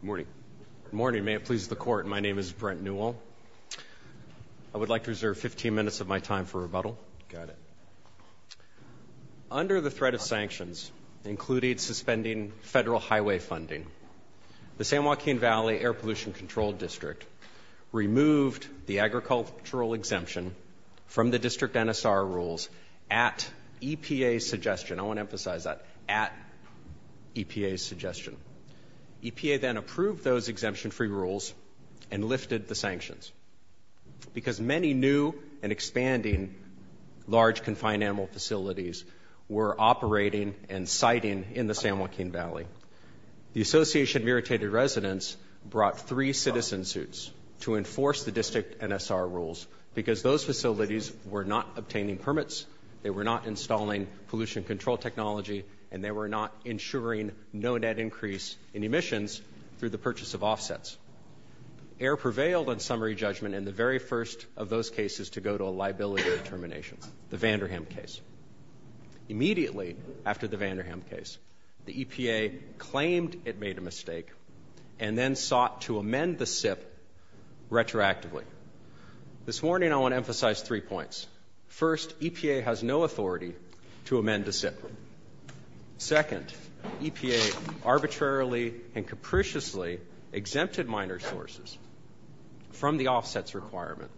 Good morning. Good morning. May it please the court, my name is Brent Newell. I would like to reserve 15 minutes of my time for rebuttal. Got it. Under the threat of sanctions, including suspending federal highway funding, the San Joaquin Valley Air Pollution Control District removed the agricultural exemption from the district NSR rules at EPA's suggestion, I want to emphasize that at EPA's suggestion. EPA then approved those exemption-free rules and lifted the sanctions because many new and expanding large confined animal facilities were operating and siting in the San Joaquin Valley. The Association of Irritated Residents brought three citizen suits to enforce the district NSR rules because those facilities were not obtaining permits, they were not insuring no net increase in emissions through the purchase of offsets. Air prevailed on summary judgment in the very first of those cases to go to a liability of termination, the Vanderham case. Immediately after the Vanderham case, the EPA claimed it made a mistake and then sought to amend the SIP retroactively. This morning I want to emphasize three points. First, EPA has no authority to amend the SIP. Second, EPA arbitrarily and capriciously exempted minor sources from the offsets requirement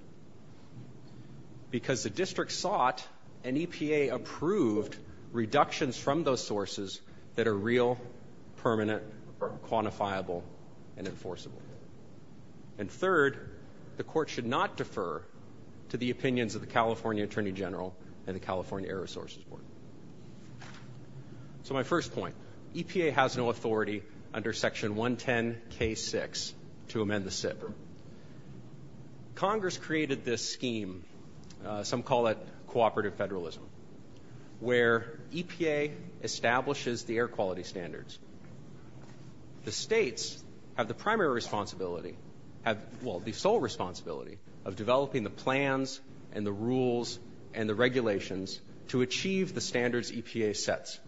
because the district sought, and EPA approved, reductions from those sources that are real, permanent, quantifiable, and enforceable. And third, the court should not defer to the opinions of the California Attorney General and the California Air Resources Board. So my first point, EPA has no authority under section 110 K6 to amend the SIP. Congress created this scheme, some call it cooperative federalism, where EPA establishes the air quality standards. The states have the primary responsibility, well, the sole responsibility, of developing the plans and the rules and the regulations to achieve the standards EPA sets.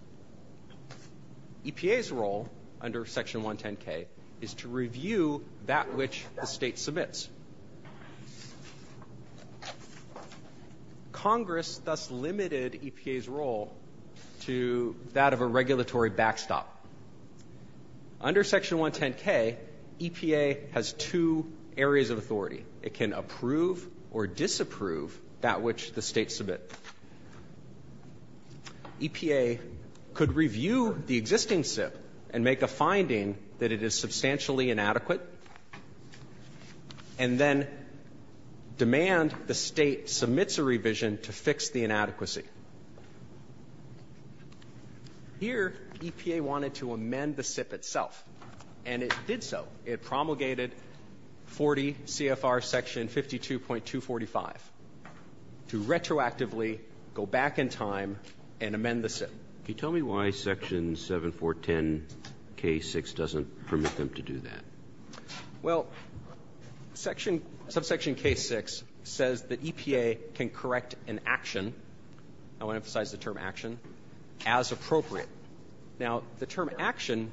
EPA's role under section 110 K is to review that which the state submits. Congress thus limited EPA's role to that of a regulatory backstop. Under section 110 K, EPA has two areas of authority. It can approve or disapprove that which the state submits. EPA could review the existing SIP and make a finding that it is substantially inadequate and then demand the state submits a revision to fix the inadequacy. Here, EPA wanted to amend the SIP itself, and it did so. It promulgated 40 CFR section 52.245 to retroactively go back in time and amend the SIP. Can you tell me why section 7410 K6 doesn't permit them to do that? Well, section – subsection K6 says that EPA can correct an action – I want to emphasize the term action – as appropriate. Now, the term action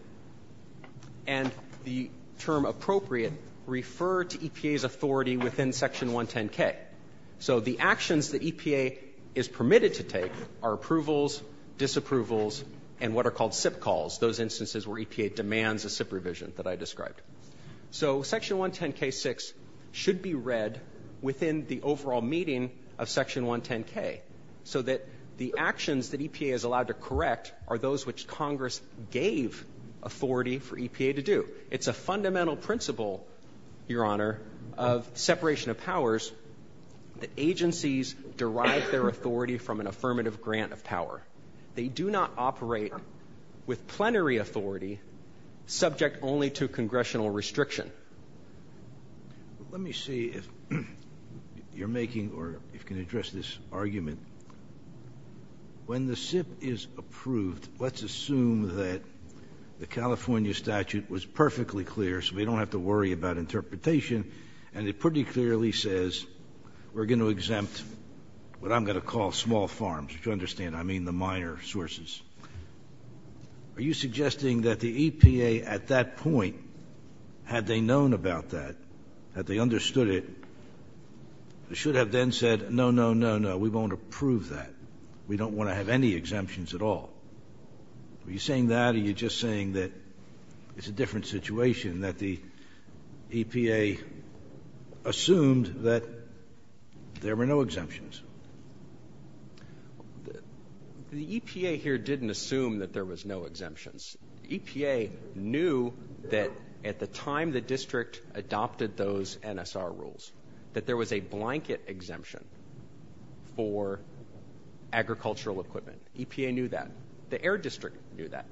and the term appropriate refer to EPA's authority within section 110 K. So the actions that EPA is permitted to take are approvals, disapprovals, and what are called SIP calls, those instances where EPA demands a SIP revision that I described. So section 110 K6 should be read within the overall meeting of section 110 K, so that the actions that EPA is allowed to correct are those which Congress gave authority for EPA to do. It's a fundamental principle, Your Honor, of separation of powers that agencies derive their authority from an affirmative grant of power. They do not operate with plenary authority subject only to congressional restriction. Let me see if you're making – or if you can address this argument. When the SIP is approved, let's assume that the California statute was perfectly clear so we don't have to worry about interpretation, and it pretty clearly says we're going to exempt what I'm going to call small farms, which you understand I mean the minor sources. Are you suggesting that the EPA at that point, had they known about that, had they understood it, should have then said, no, no, no, no, we won't approve that. We don't want to have any exemptions at all. Are you saying that or are you just saying that it's a different situation, that the EPA assumed that there were no exemptions? The EPA here didn't assume that there was no exemptions. The EPA knew that at the time the district adopted those NSR rules, that there was a blanket exemption for agricultural equipment. EPA knew that. The Air District knew that.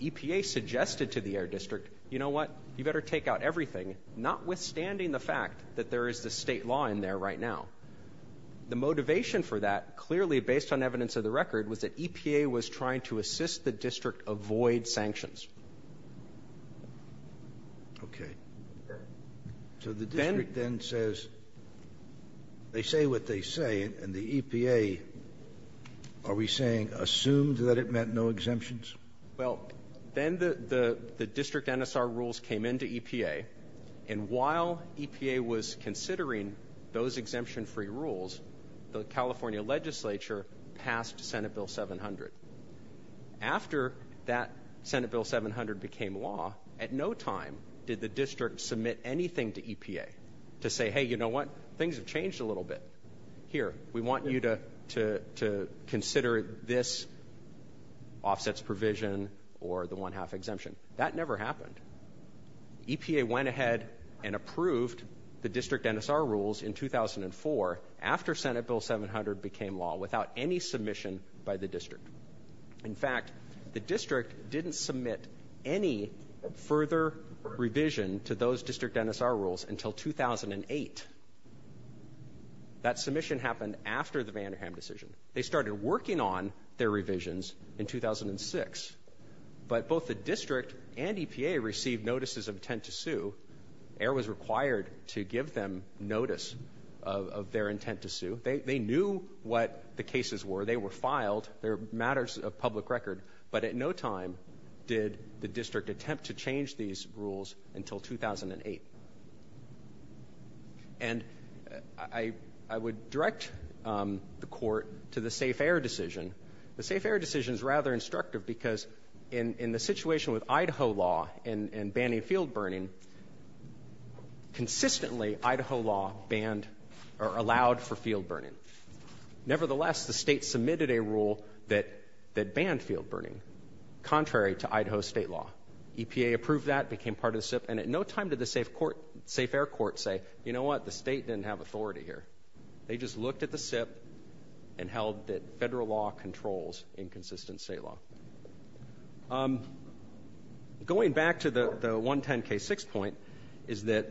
EPA suggested to the Air District, you know what, you better take out everything, notwithstanding the fact that there is a state law in there right now. The motivation for that, clearly based on evidence of the record, was that EPA was trying to assist the district avoid sanctions. Okay. So the district then says, they say what they say, and the EPA, are we saying assumed that it meant no exemptions? Well, then the district NSR rules came into EPA, and while EPA was considering those exemption-free rules, the California legislature passed Senate Bill 700. After that Senate Bill 700 became law, at no time did the district submit anything to EPA to say, hey, you know what, things have changed a little bit. Here, we want you to consider this offsets provision or the one-half exemption. That never happened. EPA went ahead and approved the district NSR rules in 2004, after Senate Bill 700 became law, without any submission by the district. In fact, the district didn't submit any further revision to those district NSR rules until 2008. That submission happened after the Vanderham decision. They started working on their revisions in 2006, but both the district and EPA received notices of intent to sue. Air was required to give them notice of their intent to sue. They knew what the cases were. They were filed. They're matters of public record, but at no time did the district attempt to change these rules until 2008. And I would direct the court to the safe air decision. The safe air decision is rather destructive, because in the situation with Idaho law and banning field burning, consistently Idaho law allowed for field burning. Nevertheless, the state submitted a rule that banned field burning, contrary to Idaho state law. EPA approved that, became part of the SIP, and at no time did the safe air court say, you know what, the state didn't have authority here. They just looked at the SIP and held that federal law controls inconsistent state law. Going back to the 110K6 point is that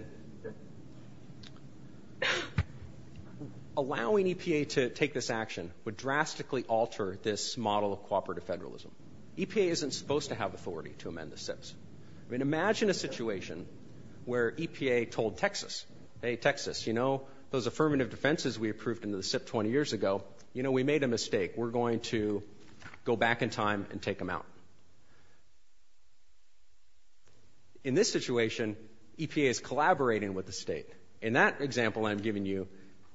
allowing EPA to take this action would drastically alter this model of cooperative federalism. EPA isn't supposed to have authority to amend the SIPs. I mean, imagine a situation where EPA told Texas, hey, Texas, you know, those affirmative defenses we approved in the SIP 20 years ago, you know, we made a mistake. We're going to go back in time and take them out. In this situation, EPA is collaborating with the state. In that example I'm giving you,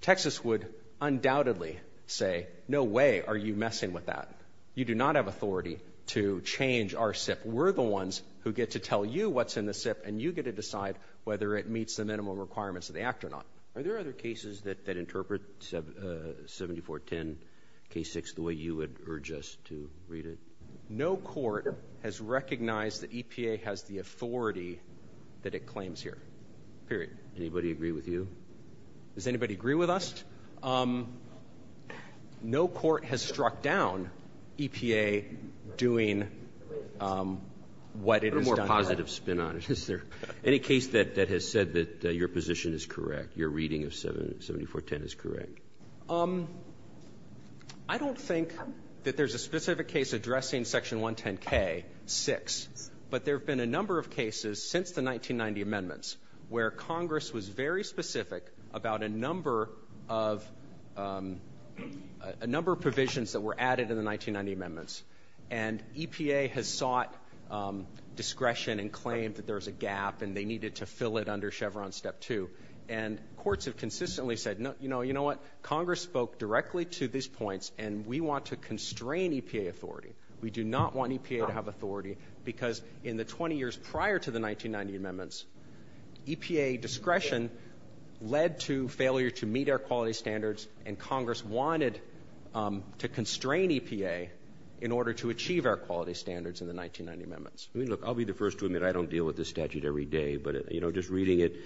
Texas would undoubtedly say, no way are you messing with that. You do not have authority to change our SIP. We're the ones who get to tell you what's in the SIP, and you get to decide whether it meets the minimum requirements of the act or not. Are there other cases that interpret 7410K6 the way you would urge us to read it? No court has recognized that EPA has the authority that it claims here. Period. Anybody agree with you? Does anybody agree with us? No court has struck down EPA doing what it has done. A little more positive spin on it. Is there any case that has said that your position is correct, your reading of 7410 is correct? I don't think that there's a specific case addressing Section 110K6, but there have been a number of cases since the 1990 amendments where Congress was very specific about a number of provisions that were added in the 1990 amendments, and EPA has sought discretion and claimed that there's a gap and they needed to fill it under Chevron Step 2. Courts have consistently said, you know what, Congress spoke directly to these points and we want to constrain EPA authority. We do not want EPA to have authority because in the 20 years prior to the 1990 amendments, EPA discretion led to failure to meet our quality standards, and Congress wanted to constrain EPA in order to achieve our quality standards in the 1990 amendments. I mean, look, I'll be the first to admit I don't deal with this statute every day, but, you know, just reading it,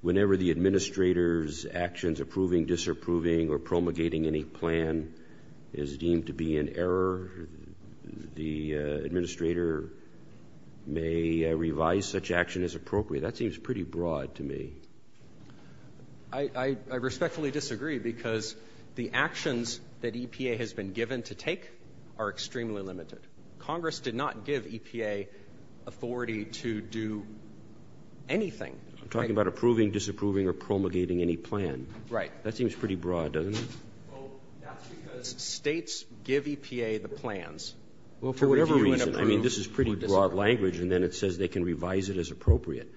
whenever the Administrator's actions, approving, disapproving, or promulgating any plan is deemed to be in error, the Administrator may revise such action as appropriate. That seems pretty broad to me. I respectfully disagree because the actions that EPA has been given to take are extremely limited. Congress did not give EPA authority to do anything. I'm talking about approving, disapproving, or promulgating any plan. Right. That seems pretty broad, doesn't it? Well, that's because States give EPA the plans. Well, for whatever reason. I mean, this is pretty broad language, and then it says they can revise it as appropriate.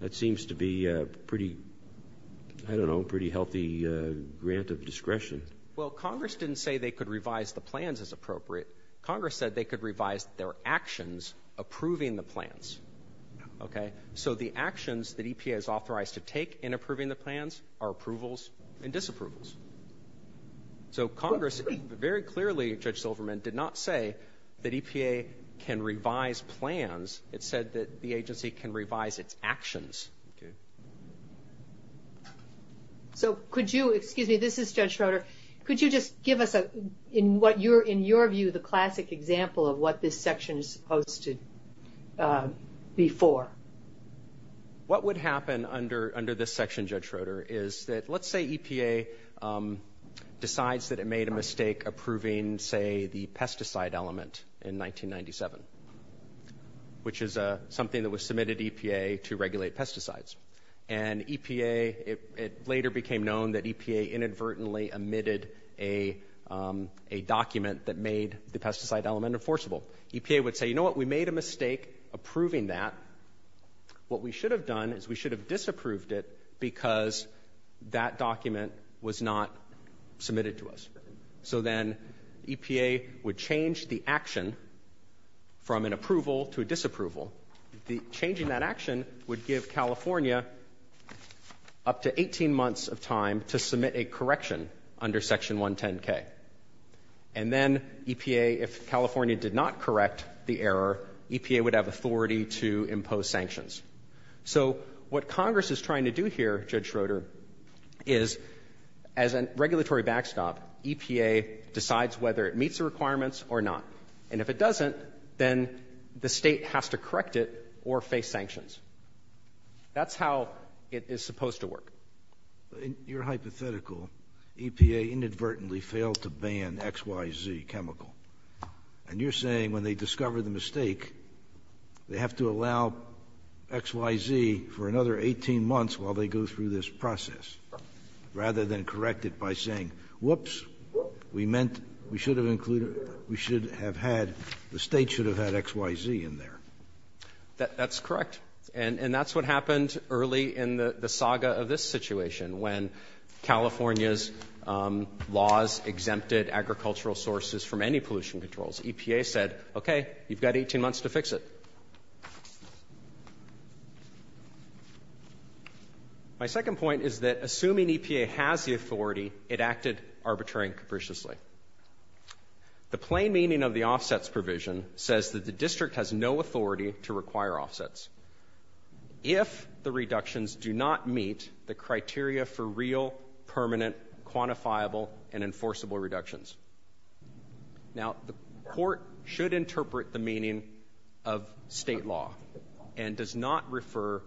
That seems to be a pretty, I don't know, pretty healthy grant of discretion. Well, Congress didn't say they could revise the plans as appropriate. Congress said they could revise their actions approving the plans. Okay? So the actions that EPA is authorized to take in approving the plans are approvals and disapprovals. So Congress, very clearly, Judge Silverman, did not say that EPA can revise plans. It said that the agency can revise its actions. Okay. So could you, excuse me, this is Judge Schroeder, could you just give us, in your view, the classic example of what this section is supposed to be for? What would happen under this section, Judge Schroeder, is that, let's say EPA decides that it made a mistake approving, say, the pesticide element in 1997, which is something that was submitted to EPA to regulate pesticides. And EPA, it later became known that EPA inadvertently omitted a document that made the pesticide element enforceable. EPA would say, you know what, we made a mistake approving that. What we should have done is we should have disapproved it because that document was not submitted to us. So then EPA would change the action from an approval to a disapproval. Changing that action would give California up to 18 months of time to submit a correction under Section 110K. And then EPA, if California did not correct the error, EPA would have authority to impose sanctions. So what Congress is trying to do here, Judge Schroeder, is as a regulatory backstop, EPA decides whether it meets the requirements or not. And if it doesn't, then the State has to correct it or face sanctions. That's how it is supposed to work. In your hypothetical, EPA inadvertently failed to ban XYZ chemical. And you're saying when they discover the mistake, they have to allow XYZ for another 18 months while they go through this process, rather than correct it by saying, whoops, we meant we should have included, we should have had, the State should have had XYZ in there. That's correct. And that's what happened early in the saga of this situation when California's laws exempted agricultural sources from any pollution controls. EPA said, okay, you've got 18 months to fix it. My second point is that assuming EPA has the authority, it acted arbitrarily and capriciously. The plain meaning of the offsets provision says that the district has no authority to if the reductions do not meet the criteria for real, permanent, quantifiable, and enforceable reductions. Now, the court should interpret the meaning of State law and does not refer,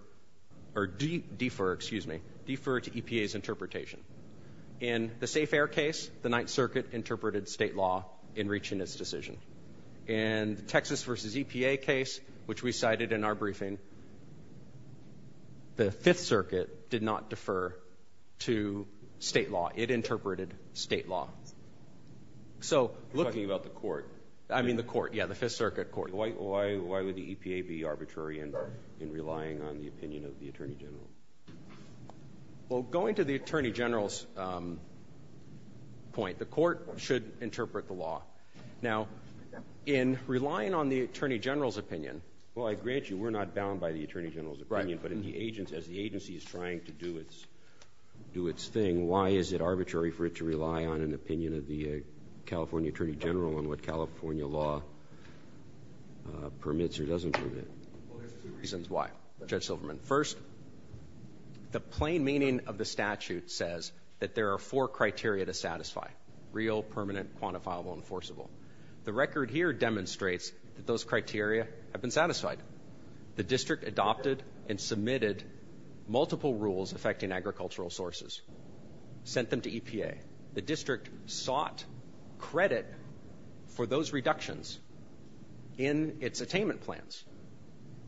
or defer, excuse me, defer to EPA's interpretation. In the Safe Air case, the Ninth Circuit interpreted State law in reaching its decision. In the Texas versus EPA case, which we cited in our briefing, the Fifth Circuit did not defer to State law. It interpreted State law. So look- You're talking about the court. I mean the court. Yeah, the Fifth Circuit court. Why would the EPA be arbitrary in relying on the opinion of the Attorney General? Well going to the Attorney General's point, the court should interpret the law. Now, in relying on the Attorney General's opinion- Well I grant you, we're not bound by the Attorney General's opinion, but as the agency is trying to do its thing, why is it arbitrary for it to rely on an opinion of the California Attorney General on what California law permits or doesn't permit? Well there's two reasons why, Judge Silverman. First, the plain meaning of the statute says that there are four criteria to satisfy. Real, permanent, quantifiable, enforceable. The record here demonstrates that those criteria have been satisfied. The district adopted and submitted multiple rules affecting agricultural sources, sent them to EPA. The district sought credit for those reductions in its attainment plans.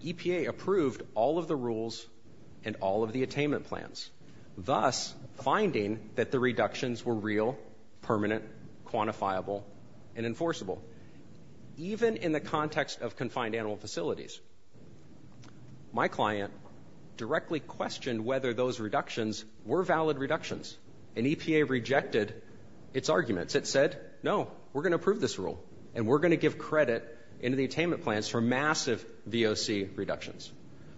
EPA approved all of the rules and all of the attainment plans. Thus, finding that the reductions were real, permanent, quantifiable, and enforceable. Even in the context of confined animal facilities. My client directly questioned whether those reductions were valid reductions and EPA rejected its arguments. It said, no, we're going to approve this rule and we're going to give credit into the attainment plans for massive VOC reductions.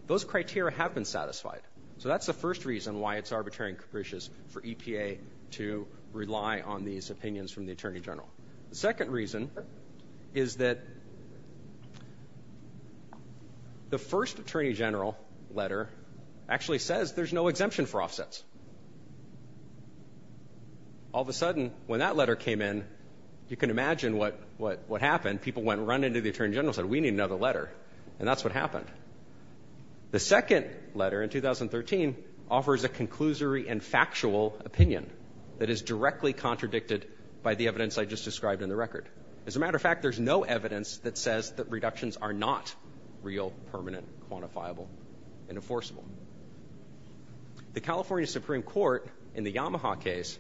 Those criteria have been satisfied. So that's the first reason why it's arbitrary and capricious for EPA to rely on these opinions from the Attorney General. The second reason is that the first Attorney General letter actually says there's no exemption for offsets. All of a sudden, when that letter came in, you can imagine what happened. People went running to the Attorney General and said, we need another letter. And that's what happened. The second letter in 2013 offers a conclusory and factual opinion that is directly contradicted by the evidence I just described in the record. As a matter of fact, there's no evidence that says that reductions are not real, permanent, quantifiable, and enforceable. The California Supreme Court in the Yamaha case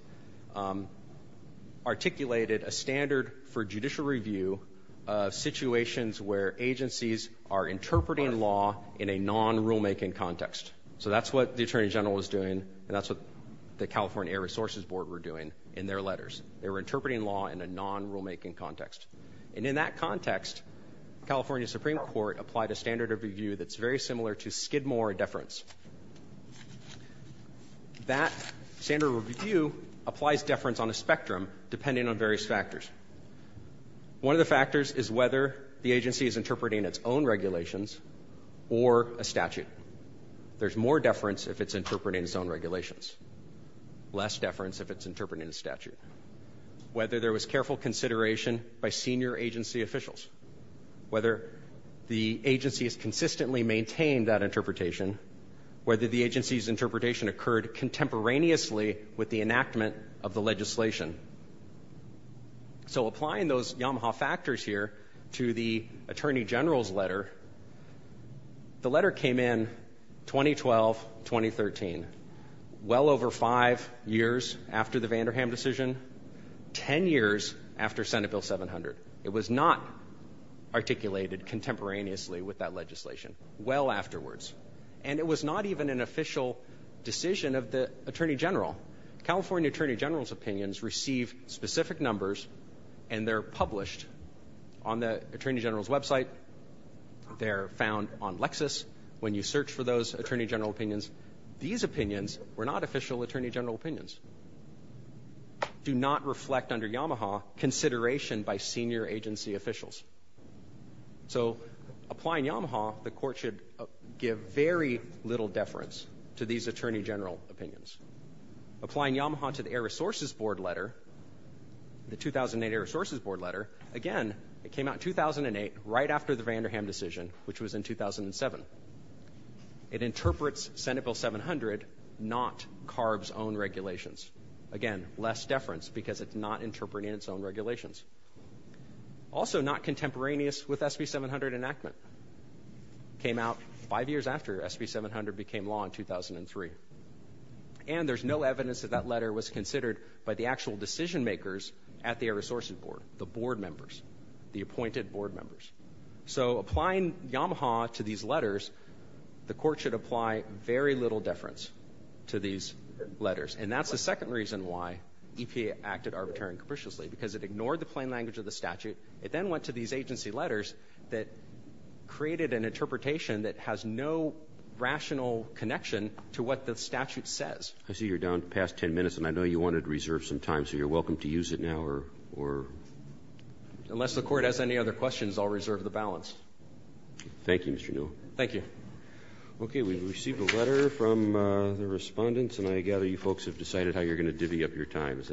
articulated a standard for judicial review of situations where agencies are interpreting law in a non-rulemaking context. So that's what the Attorney General was doing and that's what the California Air Resources Board were doing in their letters. They were interpreting law in a non-rulemaking context. And in that context, California Supreme Court applied a standard of review that's very similar to Skidmore deference. That standard of review applies deference on a spectrum depending on various factors. One of the factors is whether the agency is interpreting its own regulations or a statute. There's more deference if it's interpreting its own regulations. Less deference if it's interpreting a statute. Whether there was careful consideration by senior agency officials. Whether the agency has consistently maintained that interpretation. Whether the agency's interpretation occurred contemporaneously with the enactment of the legislation. So applying those Yamaha factors here to the Attorney General's letter, the letter came in 2012-2013, well over five years after the Vanderham decision, ten years after Senate Bill 700. It was not articulated contemporaneously with that legislation. Well afterwards. And it was not even an official decision of the Attorney General. California Attorney General's opinions receive specific numbers and they're published on the Attorney General's website. They're found on Lexis when you search for those Attorney General opinions. These opinions were not official Attorney General opinions. Do not reflect under Yamaha consideration by senior agency officials. So applying Yamaha, the court should give very little deference to these Attorney General opinions. Applying Yamaha to the Air Resources Board letter, the 2008 Air Resources Board letter, again, it came out in 2008, right after the Vanderham decision, which was in 2007. It interprets Senate Bill 700, not CARB's own regulations. Again, less deference because it's not interpreting its own regulations. Also not contemporaneous with SB 700 enactment. Came out five years after SB 700 became law in 2003. And there's no evidence that that letter was considered by the actual decision makers at the Air Resources Board, the board members, the appointed board members. So applying Yamaha to these letters, the court should apply very little deference to these letters. And that's the second reason why EPA acted arbitrarily and capriciously, because it ignored the plain language of the statute. It then went to these agency letters that created an interpretation that has no rational connection to what the statute says. I see you're down past ten minutes, and I know you wanted to reserve some time, so you're welcome to use it now, or? Unless the court has any other questions, I'll reserve the balance. Thank you, Mr. Newell. Thank you. Okay, we've received a letter from the respondents, and I gather you folks have decided how you're going to divvy up your time. Is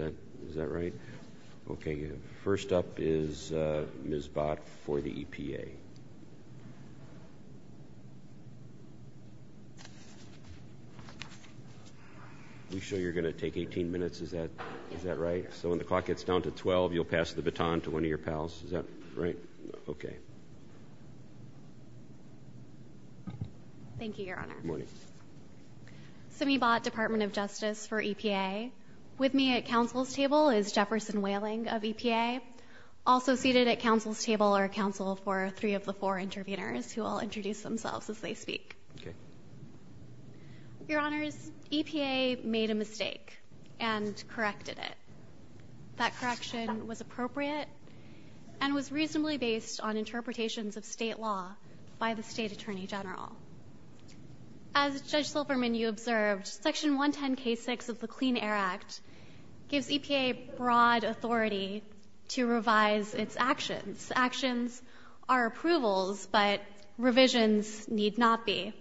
that right? Okay, first up is Ms. Bott for the EPA. We show you're going to take 18 minutes, is that right? Correct, so when the clock gets down to 12, you'll pass the baton to one of your pals, is that right? Okay. Thank you, Your Honor. Good morning. Simi Bott, Department of Justice for EPA. With me at counsel's table is Jefferson Whaling of EPA. Also seated at counsel's table are counsel for three of the four intervenors, who will introduce themselves as they speak. Okay. Your Honors, EPA made a mistake and corrected it. That correction was appropriate and was reasonably based on interpretations of state law by the state attorney general. As Judge Silverman, you observed, section 110 K6 of the Clean Air Act gives EPA broad authority to revise its actions. Actions are approvals, but revisions need not be.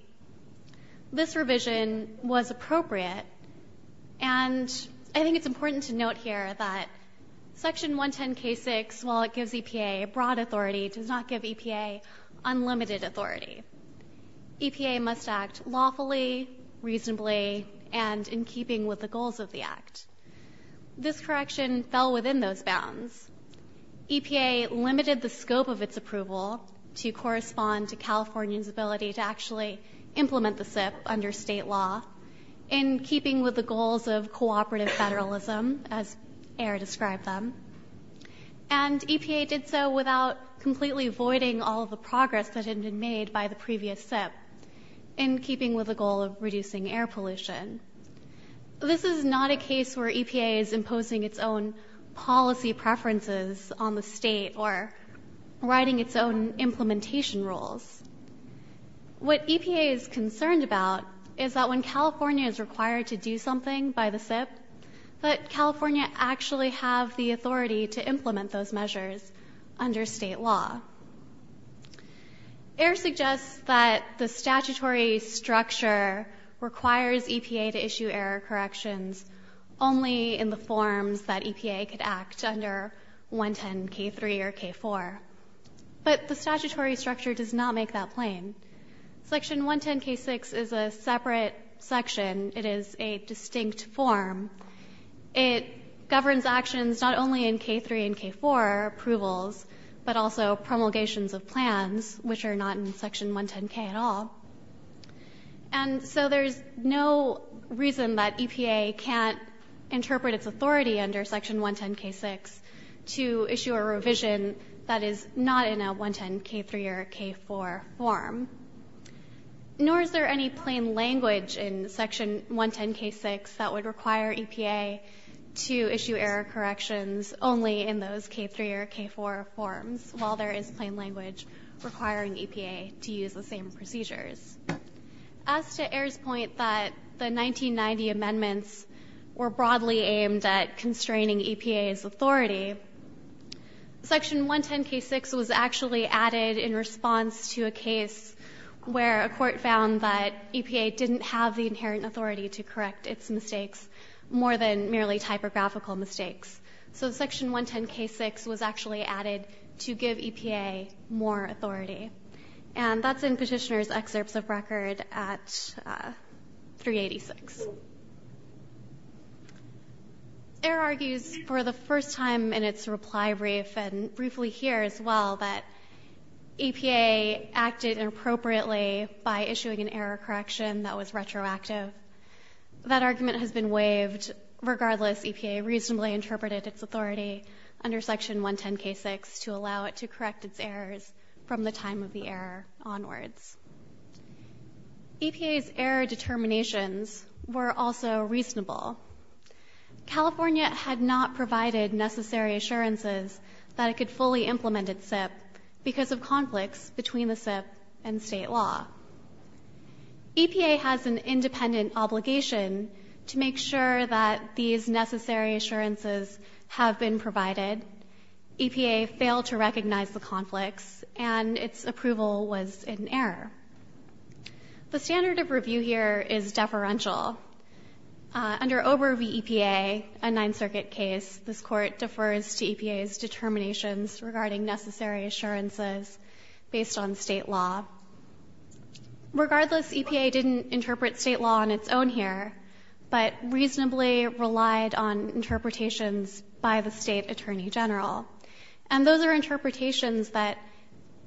This revision was appropriate, and I think it's important to note here that section 110 K6, while it gives EPA a broad authority, does not give EPA unlimited authority. EPA must act lawfully, reasonably, and in keeping with the goals of the act. This correction fell within those bounds. EPA limited the scope of its approval to correspond to California's ability to actually implement the SIP under state law, in keeping with the goals of cooperative federalism, as Ayer described them. And EPA did so without completely voiding all of the progress that had been made by the previous SIP, in keeping with the goal of reducing air pollution. This is not a case where EPA is imposing its own policy preferences on the state, or writing its own implementation rules. What EPA is concerned about is that when California is required to do something by the SIP, that California actually have the authority to implement those measures under state law. Ayer suggests that the statutory structure requires EPA to issue error corrections only in the forms that EPA could act under 110 K3 or K4. But the statutory structure does not make that plain. Section 110 K6 is a separate section. It is a distinct form. It governs actions not only in K3 and K4 approvals, but also promulgations of plans, which are not in section 110 K at all. And so there's no reason that EPA can't interpret its authority under section 110 K6 to issue a revision that is not in a 110 K3 or K4 form. Nor is there any plain language in section 110 K6 that would require EPA to issue error corrections only in those K3 or K4 forms, while there is plain language requiring EPA to use the same procedures. As to Ayer's point that the 1990 amendments were broadly aimed at constraining EPA's authority, section 110 K6 was actually added in response to a case where a court found that EPA didn't have the inherent authority to correct its mistakes more than merely typographical mistakes. So section 110 K6 was actually added to give EPA more authority. And that's in Petitioner's excerpts of record at 386. Ayer argues for the first time in its reply brief, and briefly here as well, that EPA acted inappropriately by issuing an error correction that was retroactive. That argument has been waived, regardless EPA reasonably interpreted its authority under section 110 K6 to allow it to correct its errors from the time of the error onwards. EPA's error determinations were also reasonable. California had not provided necessary assurances that it could fully implement its SIP because of conflicts between the SIP and state law. EPA has an independent obligation to make sure that these necessary assurances have been provided. EPA failed to recognize the conflicts, and its approval was in error. The standard of review here is deferential. Under OBRA v EPA, a Ninth Circuit case, this court defers to EPA's determinations regarding necessary assurances based on state law. Regardless, EPA didn't interpret state law on its own here, but reasonably relied on interpretations by the State Attorney General. And those are interpretations that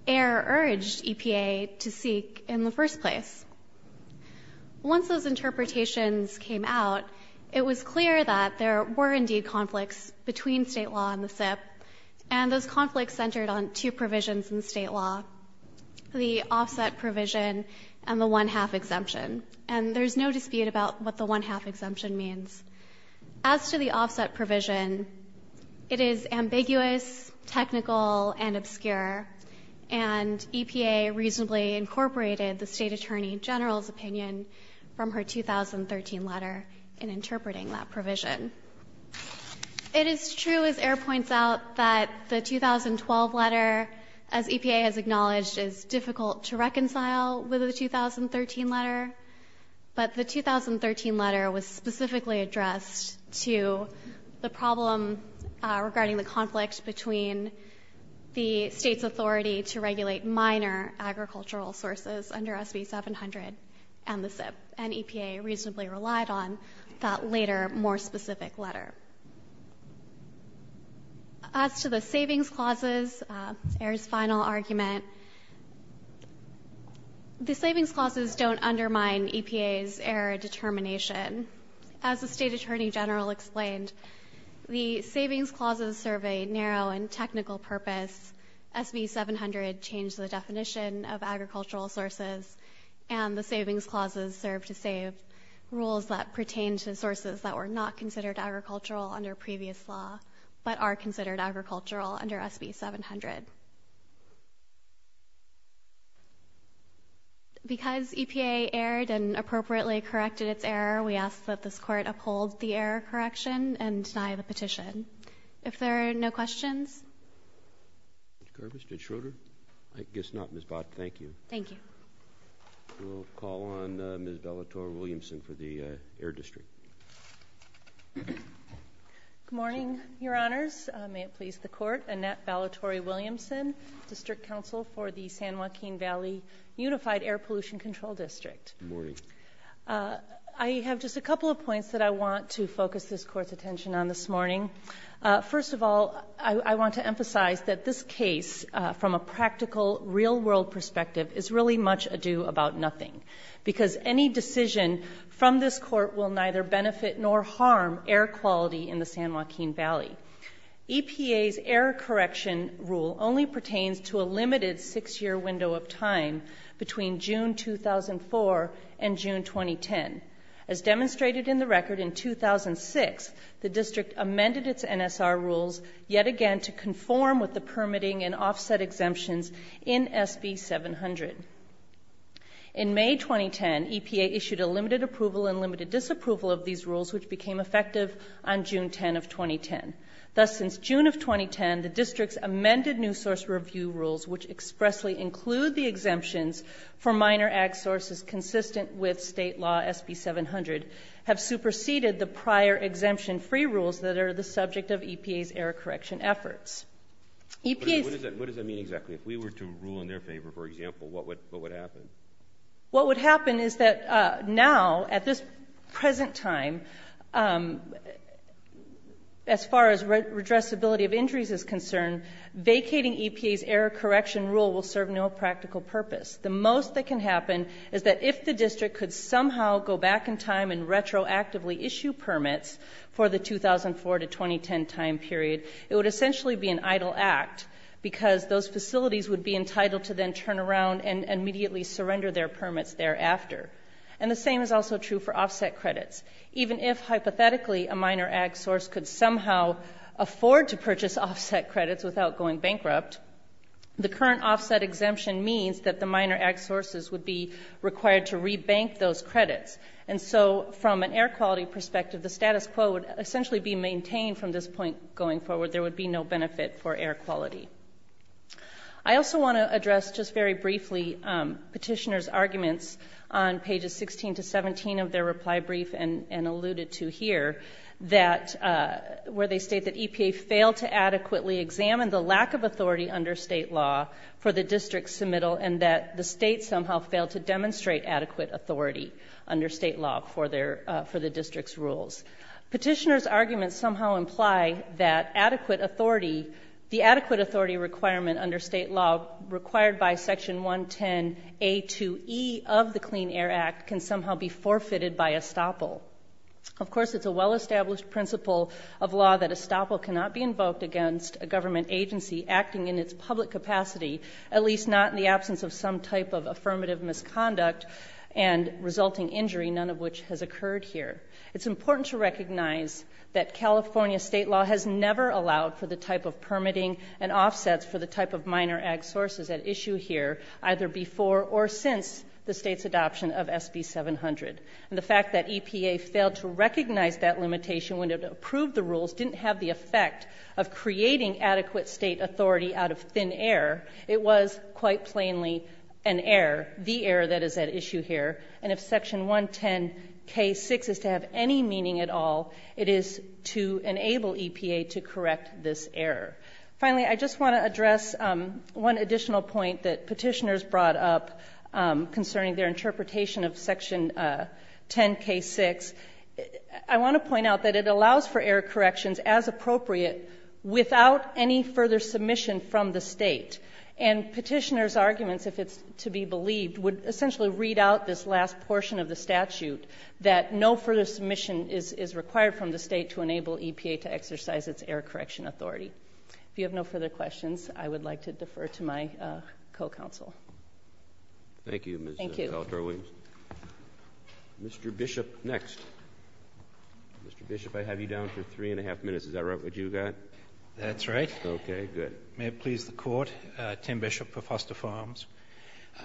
Ayer urged EPA to seek in the first place. Once those interpretations came out, it was clear that there were indeed conflicts between state law and the SIP, and those conflicts centered on two provisions in state law, the offset provision and the one-half exemption. And there's no dispute about what the one-half exemption means. As to the offset provision, it is ambiguous, technical, and obscure. And EPA reasonably incorporated the State Attorney General's opinion from her 2013 letter in interpreting that provision. It is true, as Ayer points out, that the 2012 letter, as EPA has acknowledged, is difficult to reconcile with the 2013 letter. But the 2013 letter was specifically addressed to the problem regarding the conflict between the state's authority to regulate minor agricultural sources under SB 700 and the SIP. And EPA reasonably relied on that later, more specific letter. As to the savings clauses, Ayer's final argument, the savings clauses don't undermine EPA's error determination. As the State Attorney General explained, the savings clauses serve a narrow and technical purpose. SB 700 changed the definition of agricultural sources, and the savings clauses serve to save rules that pertain to sources that were not considered agricultural under previous law, but are considered agricultural under SB 700. Because EPA erred and appropriately corrected its error, we ask that this court uphold the error correction and deny the petition. If there are no questions. Ms. Garbus, did Schroeder? I guess not. Ms. Bott, thank you. Thank you. We'll call on Ms. Bellator-Williamson for the Air District. Good morning, Your Honors. May it please the court. Annette Bellator-Williamson, District Counsel for the San Joaquin Valley Unified Air Pollution Control District. Good morning. I have just a couple of points that I want to focus this court's attention on this morning. First of all, I want to emphasize that this case, from a practical real world perspective, is really much ado about nothing. Because any decision from this court will neither benefit nor harm air quality in the San Joaquin Valley. EPA's error correction rule only pertains to a limited six year window of time between June 2004 and June 2010. As demonstrated in the record in 2006, the district amended its NSR rules yet again to conform with the permitting and offset exemptions in SB 700. In May 2010, EPA issued a limited approval and limited disapproval of these rules which became effective on June 10 of 2010. Thus, since June of 2010, the district's amended new source review rules, which expressly include the exemptions for minor ag sources consistent with state law SB 700, have superseded the prior exemption free rules that are the subject of EPA's error correction efforts. EPA's- What does that mean exactly? If we were to rule in their favor, for example, what would happen? What would happen is that now, at this present time, as far as redressability of injuries is concerned, vacating EPA's error correction rule will serve no practical purpose. The most that can happen is that if the district could somehow go back in time and retroactively issue permits for the 2004 to 2010 time period, it would essentially be an idle act because those facilities would be entitled to then turn around and immediately surrender their permits thereafter. And the same is also true for offset credits. Even if, hypothetically, a minor ag source could somehow afford to purchase offset credits without going bankrupt, the current offset exemption means that the minor ag sources would be required to rebank those credits. And so, from an air quality perspective, the status quo would essentially be maintained from this point going forward. There would be no benefit for air quality. I also want to address, just very briefly, petitioner's arguments on pages 16 to 17 of their reply brief and alluded to here, where they state that EPA failed to adequately examine the lack of authority under state law for the district's submittal and that the state somehow failed to demonstrate adequate authority under state law for the district's rules. Petitioner's arguments somehow imply that adequate authority, the adequate authority requirement under state law required by Section 110A2E of the Clean Air Act can somehow be forfeited by estoppel. Of course, it's a well-established principle of law that estoppel cannot be invoked against a government agency acting in its public capacity, at least not in the absence of some type of affirmative misconduct and resulting injury, none of which has occurred here. It's important to recognize that California state law has never allowed for the type of permitting and offsets for the type of minor ag sources at issue here, either before or since the state's adoption of SB 700. The fact that EPA failed to recognize that limitation when it approved the rules didn't have the effect of creating adequate state authority out of thin air. It was, quite plainly, an error, the error that is at issue here. And if Section 110K6 is to have any meaning at all, it is to enable EPA to correct this error. Finally, I just want to address one additional point that petitioners brought up concerning their interpretation of Section 10K6. I want to point out that it allows for error corrections as appropriate without any further submission from the state. And petitioners' arguments, if it's to be believed, would essentially read out this last portion of the statute, that no further submission is required from the state to enable EPA to exercise its error correction authority. If you have no further questions, I would like to defer to my co-counsel. Thank you, Ms. Bellacor-Williams. Thank you. Mr. Bishop, next. Mr. Bishop, I have you down for three and a half minutes. Is that right? What you got? That's right. Okay, good. May it please the Court? My name is Tim Bishop of Foster Farms,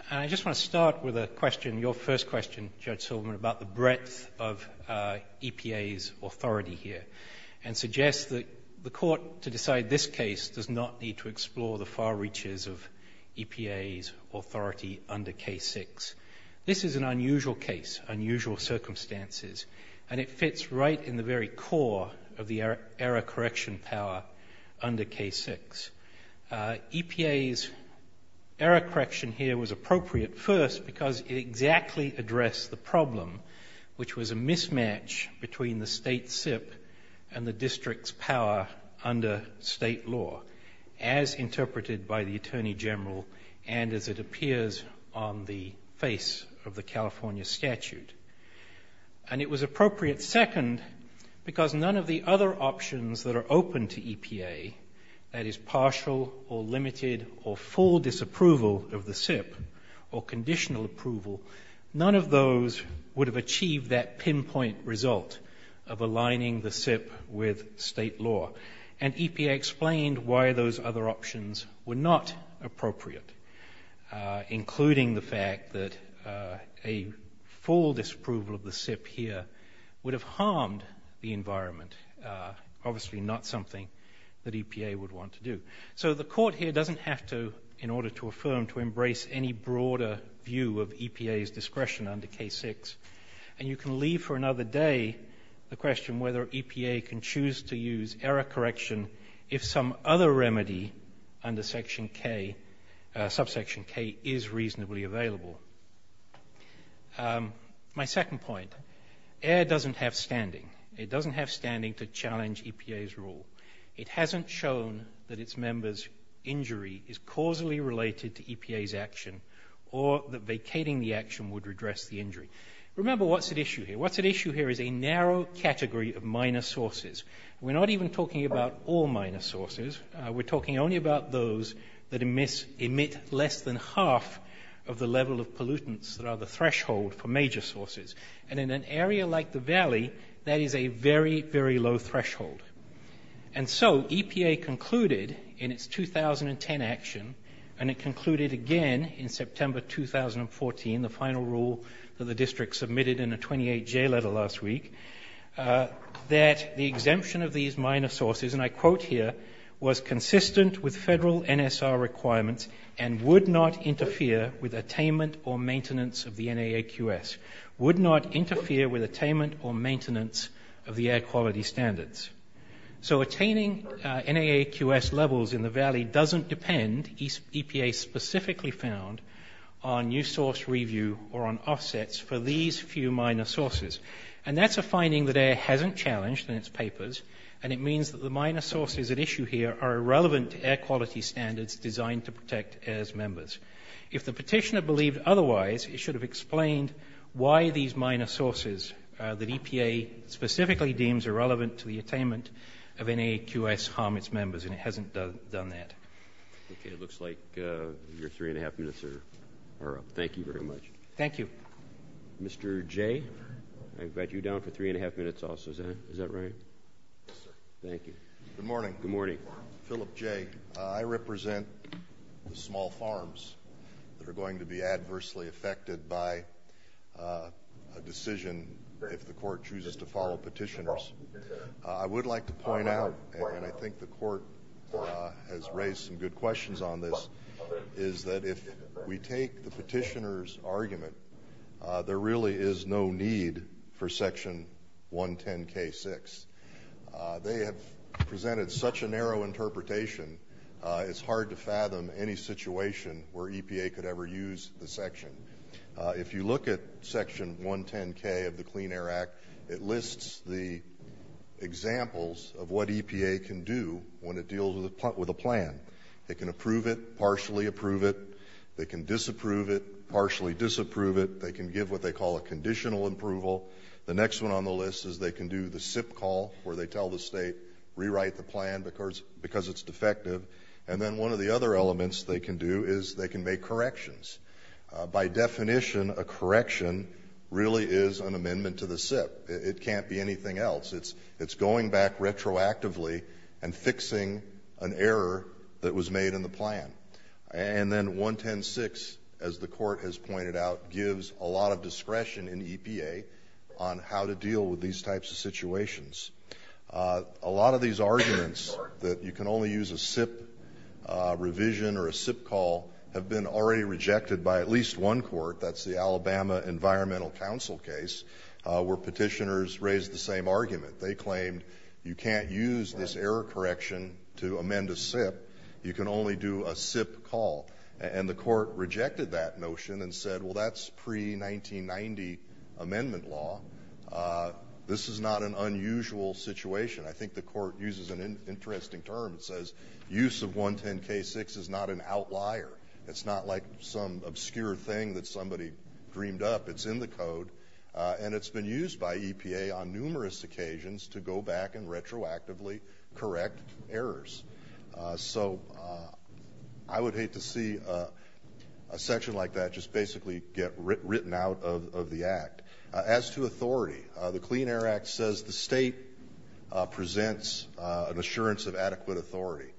and I just want to start with a question, your first question, Judge Silverman, about the breadth of EPA's authority here, and suggest that the Court, to decide this case, does not need to explore the far reaches of EPA's authority under K6. This is an unusual case, unusual circumstances, and it fits right in the very core of the error correction power under K6. EPA's error correction here was appropriate, first, because it exactly addressed the problem, which was a mismatch between the state SIP and the district's power under state law, as interpreted by the Attorney General, and as it appears on the face of the California statute. And it was appropriate, second, because none of the other options that are open to EPA, that is partial or limited or full disapproval of the SIP, or conditional approval, none of those would have achieved that pinpoint result of aligning the SIP with state law. And EPA explained why those other options were not appropriate, including the fact that a full disapproval of the SIP here would have harmed the environment, obviously not something that EPA would want to do. So the Court here doesn't have to, in order to affirm, to embrace any broader view of EPA's discretion under K6. And you can leave for another day the question whether EPA can choose to use error correction if some other remedy under section K, subsection K, is reasonably available. My second point, error doesn't have standing. It doesn't have standing to challenge EPA's rule. It hasn't shown that its member's injury is causally related to EPA's action or that vacating the action would redress the injury. Remember what's at issue here. What's at issue here is a narrow category of minor sources. We're not even talking about all minor sources. We're talking only about those that emit less than half of the level of pollutants that are the threshold for major sources. And in an area like the valley, that is a very, very low threshold. And so EPA concluded in its 2010 action, and it concluded again in September 2014, the final rule that the district submitted in a 28-J letter last week, that the exemption of these minor sources, and I quote here, was consistent with federal NSR requirements and would not interfere with attainment or maintenance of the NAAQS. Would not interfere with attainment or maintenance of the air quality standards. So attaining NAAQS levels in the valley doesn't depend, EPA specifically found, on new source review or on offsets for these few minor sources. And that's a finding that AIR hasn't challenged in its papers, and it means that the minor sources at issue here are irrelevant to air quality standards designed to protect AIR's members. If the petitioner believed otherwise, it should have explained why these minor sources that EPA specifically deems irrelevant to the attainment of NAAQS harm its members, and it hasn't done that. Okay. It looks like your three and a half minutes are up. Thank you very much. Thank you. Mr. Jay, I've got you down for three and a half minutes also. Is that right? Yes, sir. Thank you. Good morning. Good morning. Philip Jay. I represent the small farms that are going to be adversely affected by a decision if the court chooses to follow petitioners. I would like to point out, and I think the court has raised some good questions on this, is that if we take the petitioner's argument, there really is no need for Section 110K6. They have presented such a narrow interpretation, it's hard to fathom any situation where EPA could ever use the section. If you look at Section 110K of the Clean Air Act, it lists the examples of what EPA can do when it deals with a plan. They can approve it, partially approve it. They can disapprove it, partially disapprove it. They can give what they call a conditional approval. The next one on the list is they can do the SIP call, where they tell the state, rewrite the plan because it's defective. And then one of the other elements they can do is they can make corrections. By definition, a correction really is an amendment to the SIP. It can't be anything else. It's going back retroactively and fixing an error that was made in the plan. And then 110K6, as the court has pointed out, gives a lot of discretion in EPA on how to deal with these types of situations. A lot of these arguments that you can only use a SIP revision or a SIP call have been already rejected by at least one court. That's the Alabama Environmental Council case, where petitioners raised the same argument. They claimed you can't use this error correction to amend a SIP. You can only do a SIP call. And the court rejected that notion and said, well, that's pre-1990 amendment law. This is not an unusual situation. I think the court uses an interesting term. It says, use of 110K6 is not an outlier. It's not like some obscure thing that somebody dreamed up. It's in the code. And it's been used by EPA on numerous occasions to go back and retroactively correct errors. So I would hate to see a section like that just basically get written out of the act. As to authority, the Clean Air Act says the state presents an assurance of adequate authority.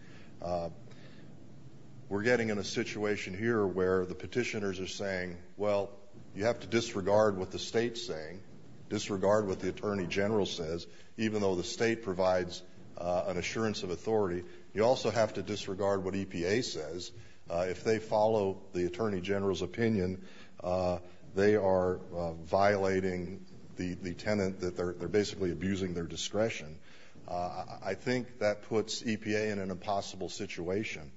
We're getting in a situation here where the petitioners are saying, well, you have to disregard what the state's saying, disregard what the Attorney General says, even though the state provides an assurance of authority. You also have to disregard what EPA says. If they follow the Attorney General's opinion, they are violating the tenet that they're basically abusing their discretion. I think that puts EPA in an impossible situation.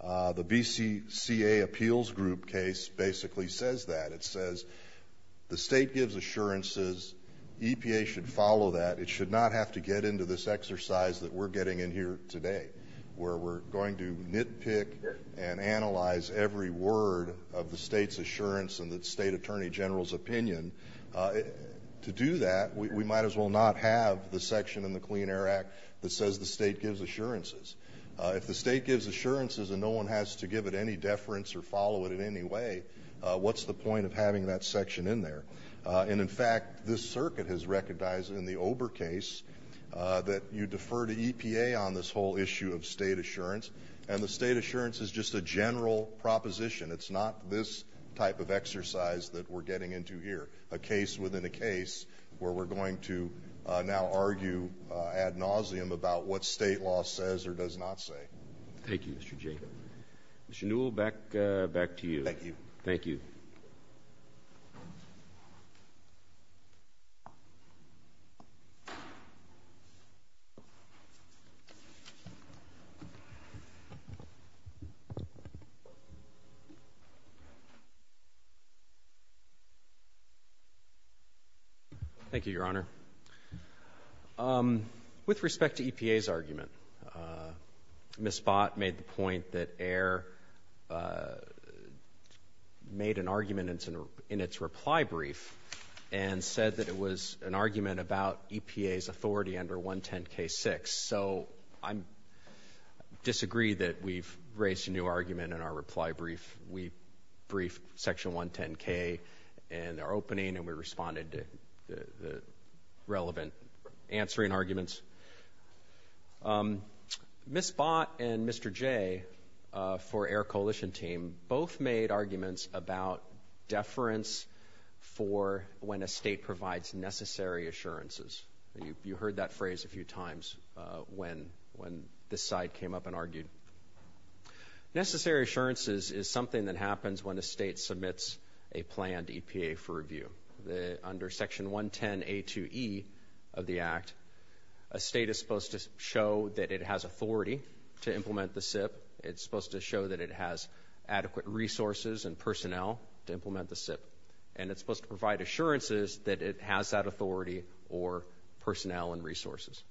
The BCCA Appeals Group case basically says that. It says the state gives assurances, EPA should follow that, it should not have to get into this exercise that we're getting in here today, where we're going to nitpick and analyze every word of the state's assurance and the state Attorney General's opinion. To do that, we might as well not have the section in the Clean Air Act that says the state gives assurances. If the state gives assurances and no one has to give it any deference or follow it in any way, what's the point of having that section in there? And in fact, this circuit has recognized in the Ober case that you defer to EPA on this whole issue of state assurance, and the state assurance is just a general proposition. It's not this type of exercise that we're getting into here. A case within a case where we're going to now argue ad nauseum about what state law says or does not say. Thank you, Mr. Jay. Mr. Newell, back to you. Thank you. Thank you, Your Honor. With respect to EPA's argument, Ms. Bott made the point that AIR made an argument in its reply brief and said that it was an argument about EPA's authority under 110K6. So I disagree that we've raised a new argument in our reply brief. We briefed Section 110K in our opening and we responded to the relevant answering arguments. Ms. Bott and Mr. Jay for AIR Coalition team both made arguments about deference for when a state provides necessary assurances. You heard that phrase a few times when this side came up and argued. Necessary assurances is something that happens when a state submits a planned EPA for review. Under Section 110A2E of the Act, a state is supposed to show that it has authority to implement the SIP. It's supposed to show that it has adequate resources and personnel to implement the SIP, and it's supposed to provide assurances that it has that authority or personnel and resources.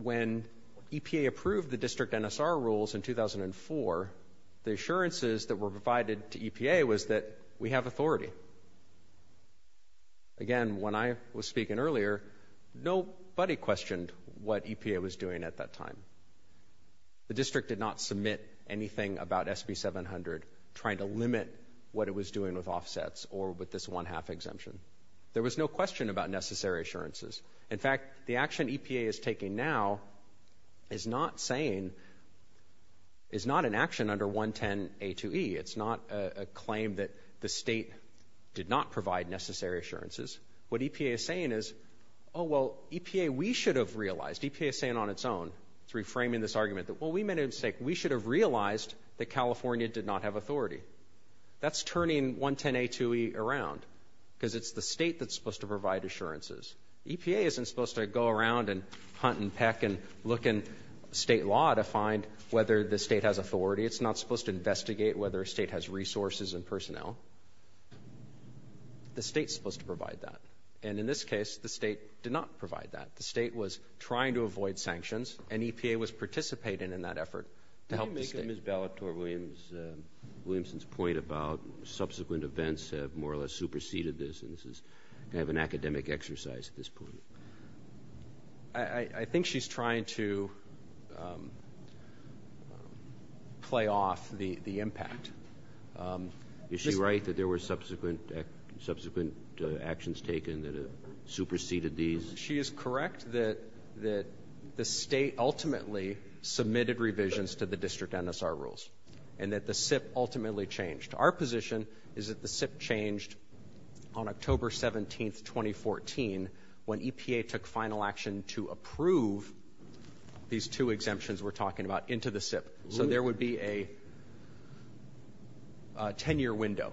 When EPA approved the district NSR rules in 2004, the assurances that were provided to EPA was that we have authority. Again, when I was speaking earlier, nobody questioned what EPA was doing at that time. The district did not submit anything about SB 700 trying to limit what it was doing with offsets or with this one-half exemption. There was no question about necessary assurances. In fact, the action EPA is taking now is not saying, is not an action under 110A2E. It's not a claim that the state did not provide necessary assurances. What EPA is saying is, oh, well, EPA, we should have realized, EPA is saying on its own, three framing this argument, that, well, we made a mistake. We should have realized that California did not have authority. That's turning 110A2E around, because it's the state that's supposed to provide assurances. EPA isn't supposed to go around and hunt and peck and look in state law to find whether the state has authority. It's not supposed to investigate whether a state has resources and personnel. The state's supposed to provide that, and in this case, the state did not provide that. The state was trying to avoid sanctions, and EPA was participating in that effort to help the state. Can you make a Ms. Bellator-Williamson's point about subsequent events have more or less superseded this, and this is kind of an academic exercise at this point? I think she's trying to play off the impact. Is she right that there were subsequent actions taken that superseded these? She is correct that the state ultimately submitted revisions to the district NSR rules, and that the SIP ultimately changed. Our position is that the SIP changed on October 17th, 2014, when EPA took final action to approve these two exemptions we're talking about into the SIP. So there would be a 10-year window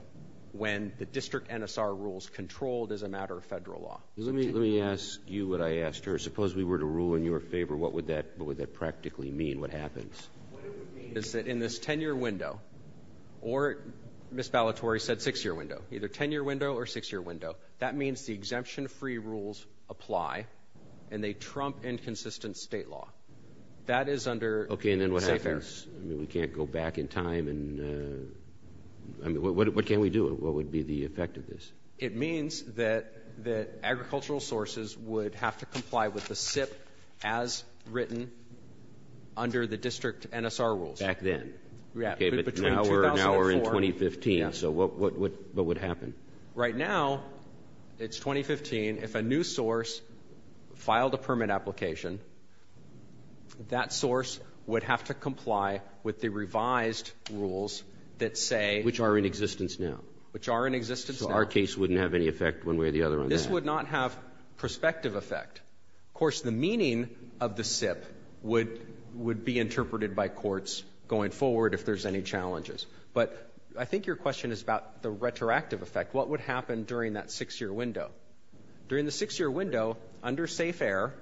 when the district NSR rules controlled as a matter of federal law. Let me ask you what I asked her. Suppose we were to rule in your favor, what would that practically mean? What happens? What it would mean is that in this 10-year window, or Ms. Bellatory said 6-year window, either 10-year window or 6-year window, that means the exemption-free rules apply, and they trump inconsistent state law. That is under state fair. Okay, and then what happens? I mean, we can't go back in time, and I mean, what can we do? What would be the effect of this? It means that agricultural sources would have to comply with the SIP as written under the district NSR rules. Back then? Yeah. Okay, but now we're in 2015, so what would happen? Right now, it's 2015. If a new source filed a permit application, that source would have to comply with the revised rules that say... Which are in existence now. Which are in existence now. So our case wouldn't have any effect one way or the other on that? This would not have prospective effect. Of course, the meaning of the SIP would be interpreted by courts going forward if there's any challenges. But I think your question is about the retroactive effect. What would happen during that 6-year window? During the 6-year window, under safe air,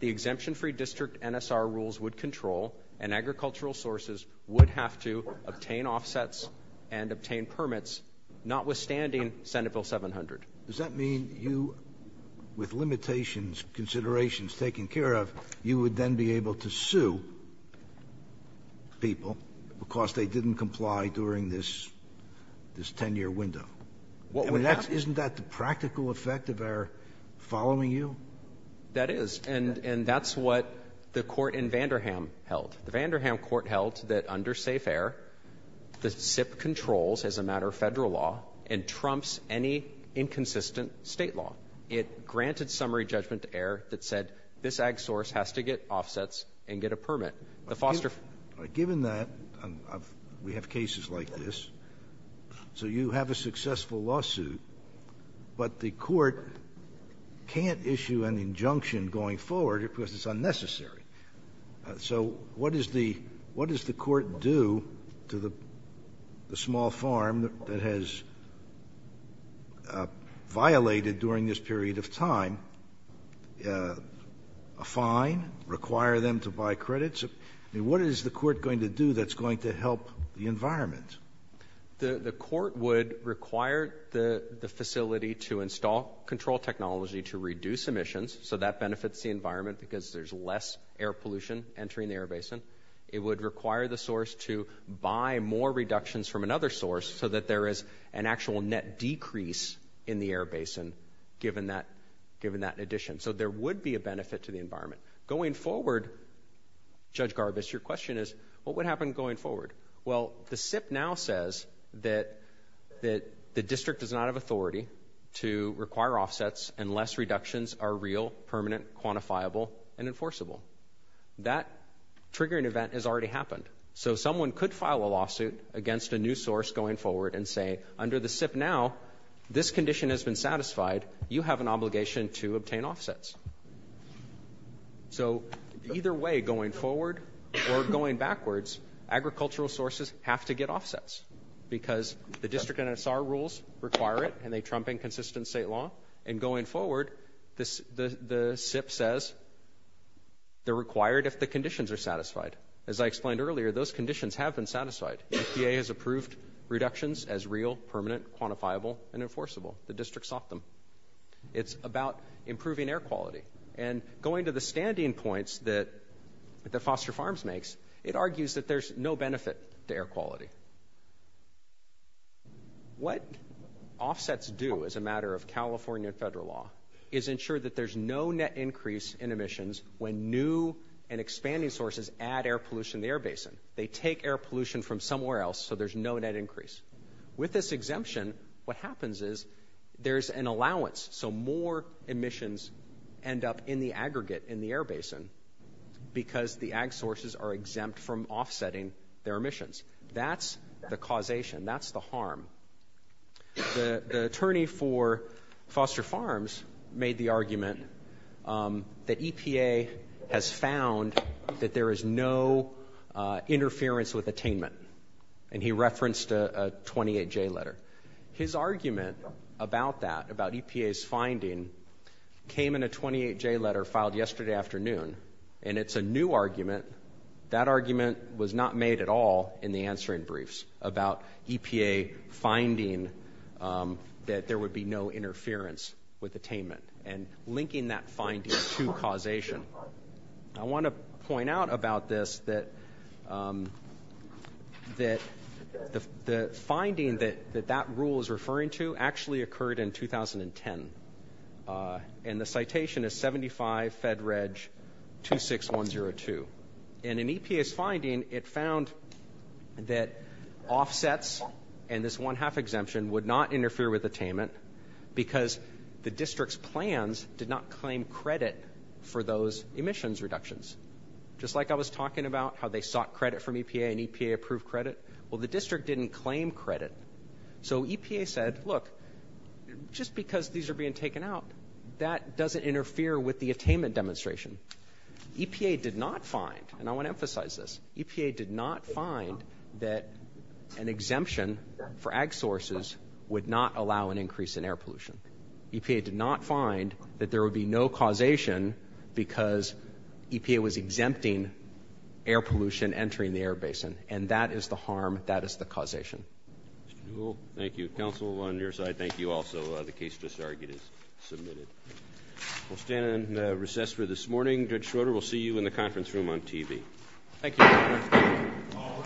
the exemption-free district NSR rules would control, and agricultural sources would have to obtain offsets and obtain permits, notwithstanding Senate Bill 700. Does that mean you, with limitations, considerations taken care of, you would then be able to sue people because they didn't comply during this 10-year window? Isn't that the practical effect of our following you? That is. And that's what the court in Vanderham held. The Vanderham court held that under safe air, the SIP controls, as a matter of federal law, and trumps any inconsistent state law. It granted summary judgment to air that said this ag source has to get offsets and get a permit. Given that, we have cases like this, so you have a successful lawsuit, but the court can't issue an injunction going forward because it's unnecessary. So, what does the court do to the small farm that has violated during this period of time a fine, require them to buy credits? What is the court going to do that's going to help the environment? The court would require the facility to install control technology to reduce emissions, so that benefits the environment because there's less air pollution entering the air basin. It would require the source to buy more reductions from another source so that there is an actual net decrease in the air basin, given that addition. So there would be a benefit to the environment. Going forward, Judge Garbus, your question is, what would happen going forward? Well, the SIP now says that the district does not have authority to require offsets unless reductions are real, permanent, quantifiable, and enforceable. That triggering event has already happened, so someone could file a lawsuit against a new source going forward and say, under the SIP now, this condition has been satisfied. You have an obligation to obtain offsets. So either way, going forward or going backwards, agricultural sources have to get offsets because the district NSR rules require it, and they trump inconsistent state law. And going forward, the SIP says they're required if the conditions are satisfied. As I explained earlier, those conditions have been satisfied. FDA has approved reductions as real, permanent, quantifiable, and enforceable. The district sought them. It's about improving air quality. And going to the standing points that Foster Farms makes, it argues that there's no benefit to air quality. What offsets do as a matter of California federal law is ensure that there's no net increase in emissions when new and expanding sources add air pollution to the air basin. They take air pollution from somewhere else, so there's no net increase. With this exemption, what happens is there's an allowance, so more emissions end up in the aggregate in the air basin because the ag sources are exempt from offsetting their emissions. That's the causation. That's the harm. The attorney for Foster Farms made the argument that EPA has found that there is no interference with attainment, and he referenced a 28J letter. His argument about that, about EPA's finding, came in a 28J letter filed yesterday afternoon, and it's a new argument. That argument was not made at all in the answering briefs about EPA finding that there would be no interference with attainment and linking that finding to causation. I want to point out about this that the finding that that rule is referring to actually occurred in 2010, and the citation is 75 Fed Reg 26102, and in EPA's finding, it found that offsets and this one-half exemption would not interfere with attainment because the district's plans did not claim credit for those emissions reductions. Just like I was talking about how they sought credit from EPA and EPA approved credit, well, the district didn't claim credit, so EPA said, look, just because these are being taken out, that doesn't interfere with the attainment demonstration. EPA did not find, and I want to emphasize this, EPA did not find that an exemption for ag sources would not allow an increase in air pollution. EPA did not find that there would be no causation because EPA was exempting air pollution entering the air basin, and that is the harm, that is the causation. Mr. Newell, thank you. Counsel on your side, thank you also. The case just argued is submitted. We'll stand in recess for this morning. Judge Schroeder, we'll see you in the conference room on TV. Thank you, Your Honor. All rise.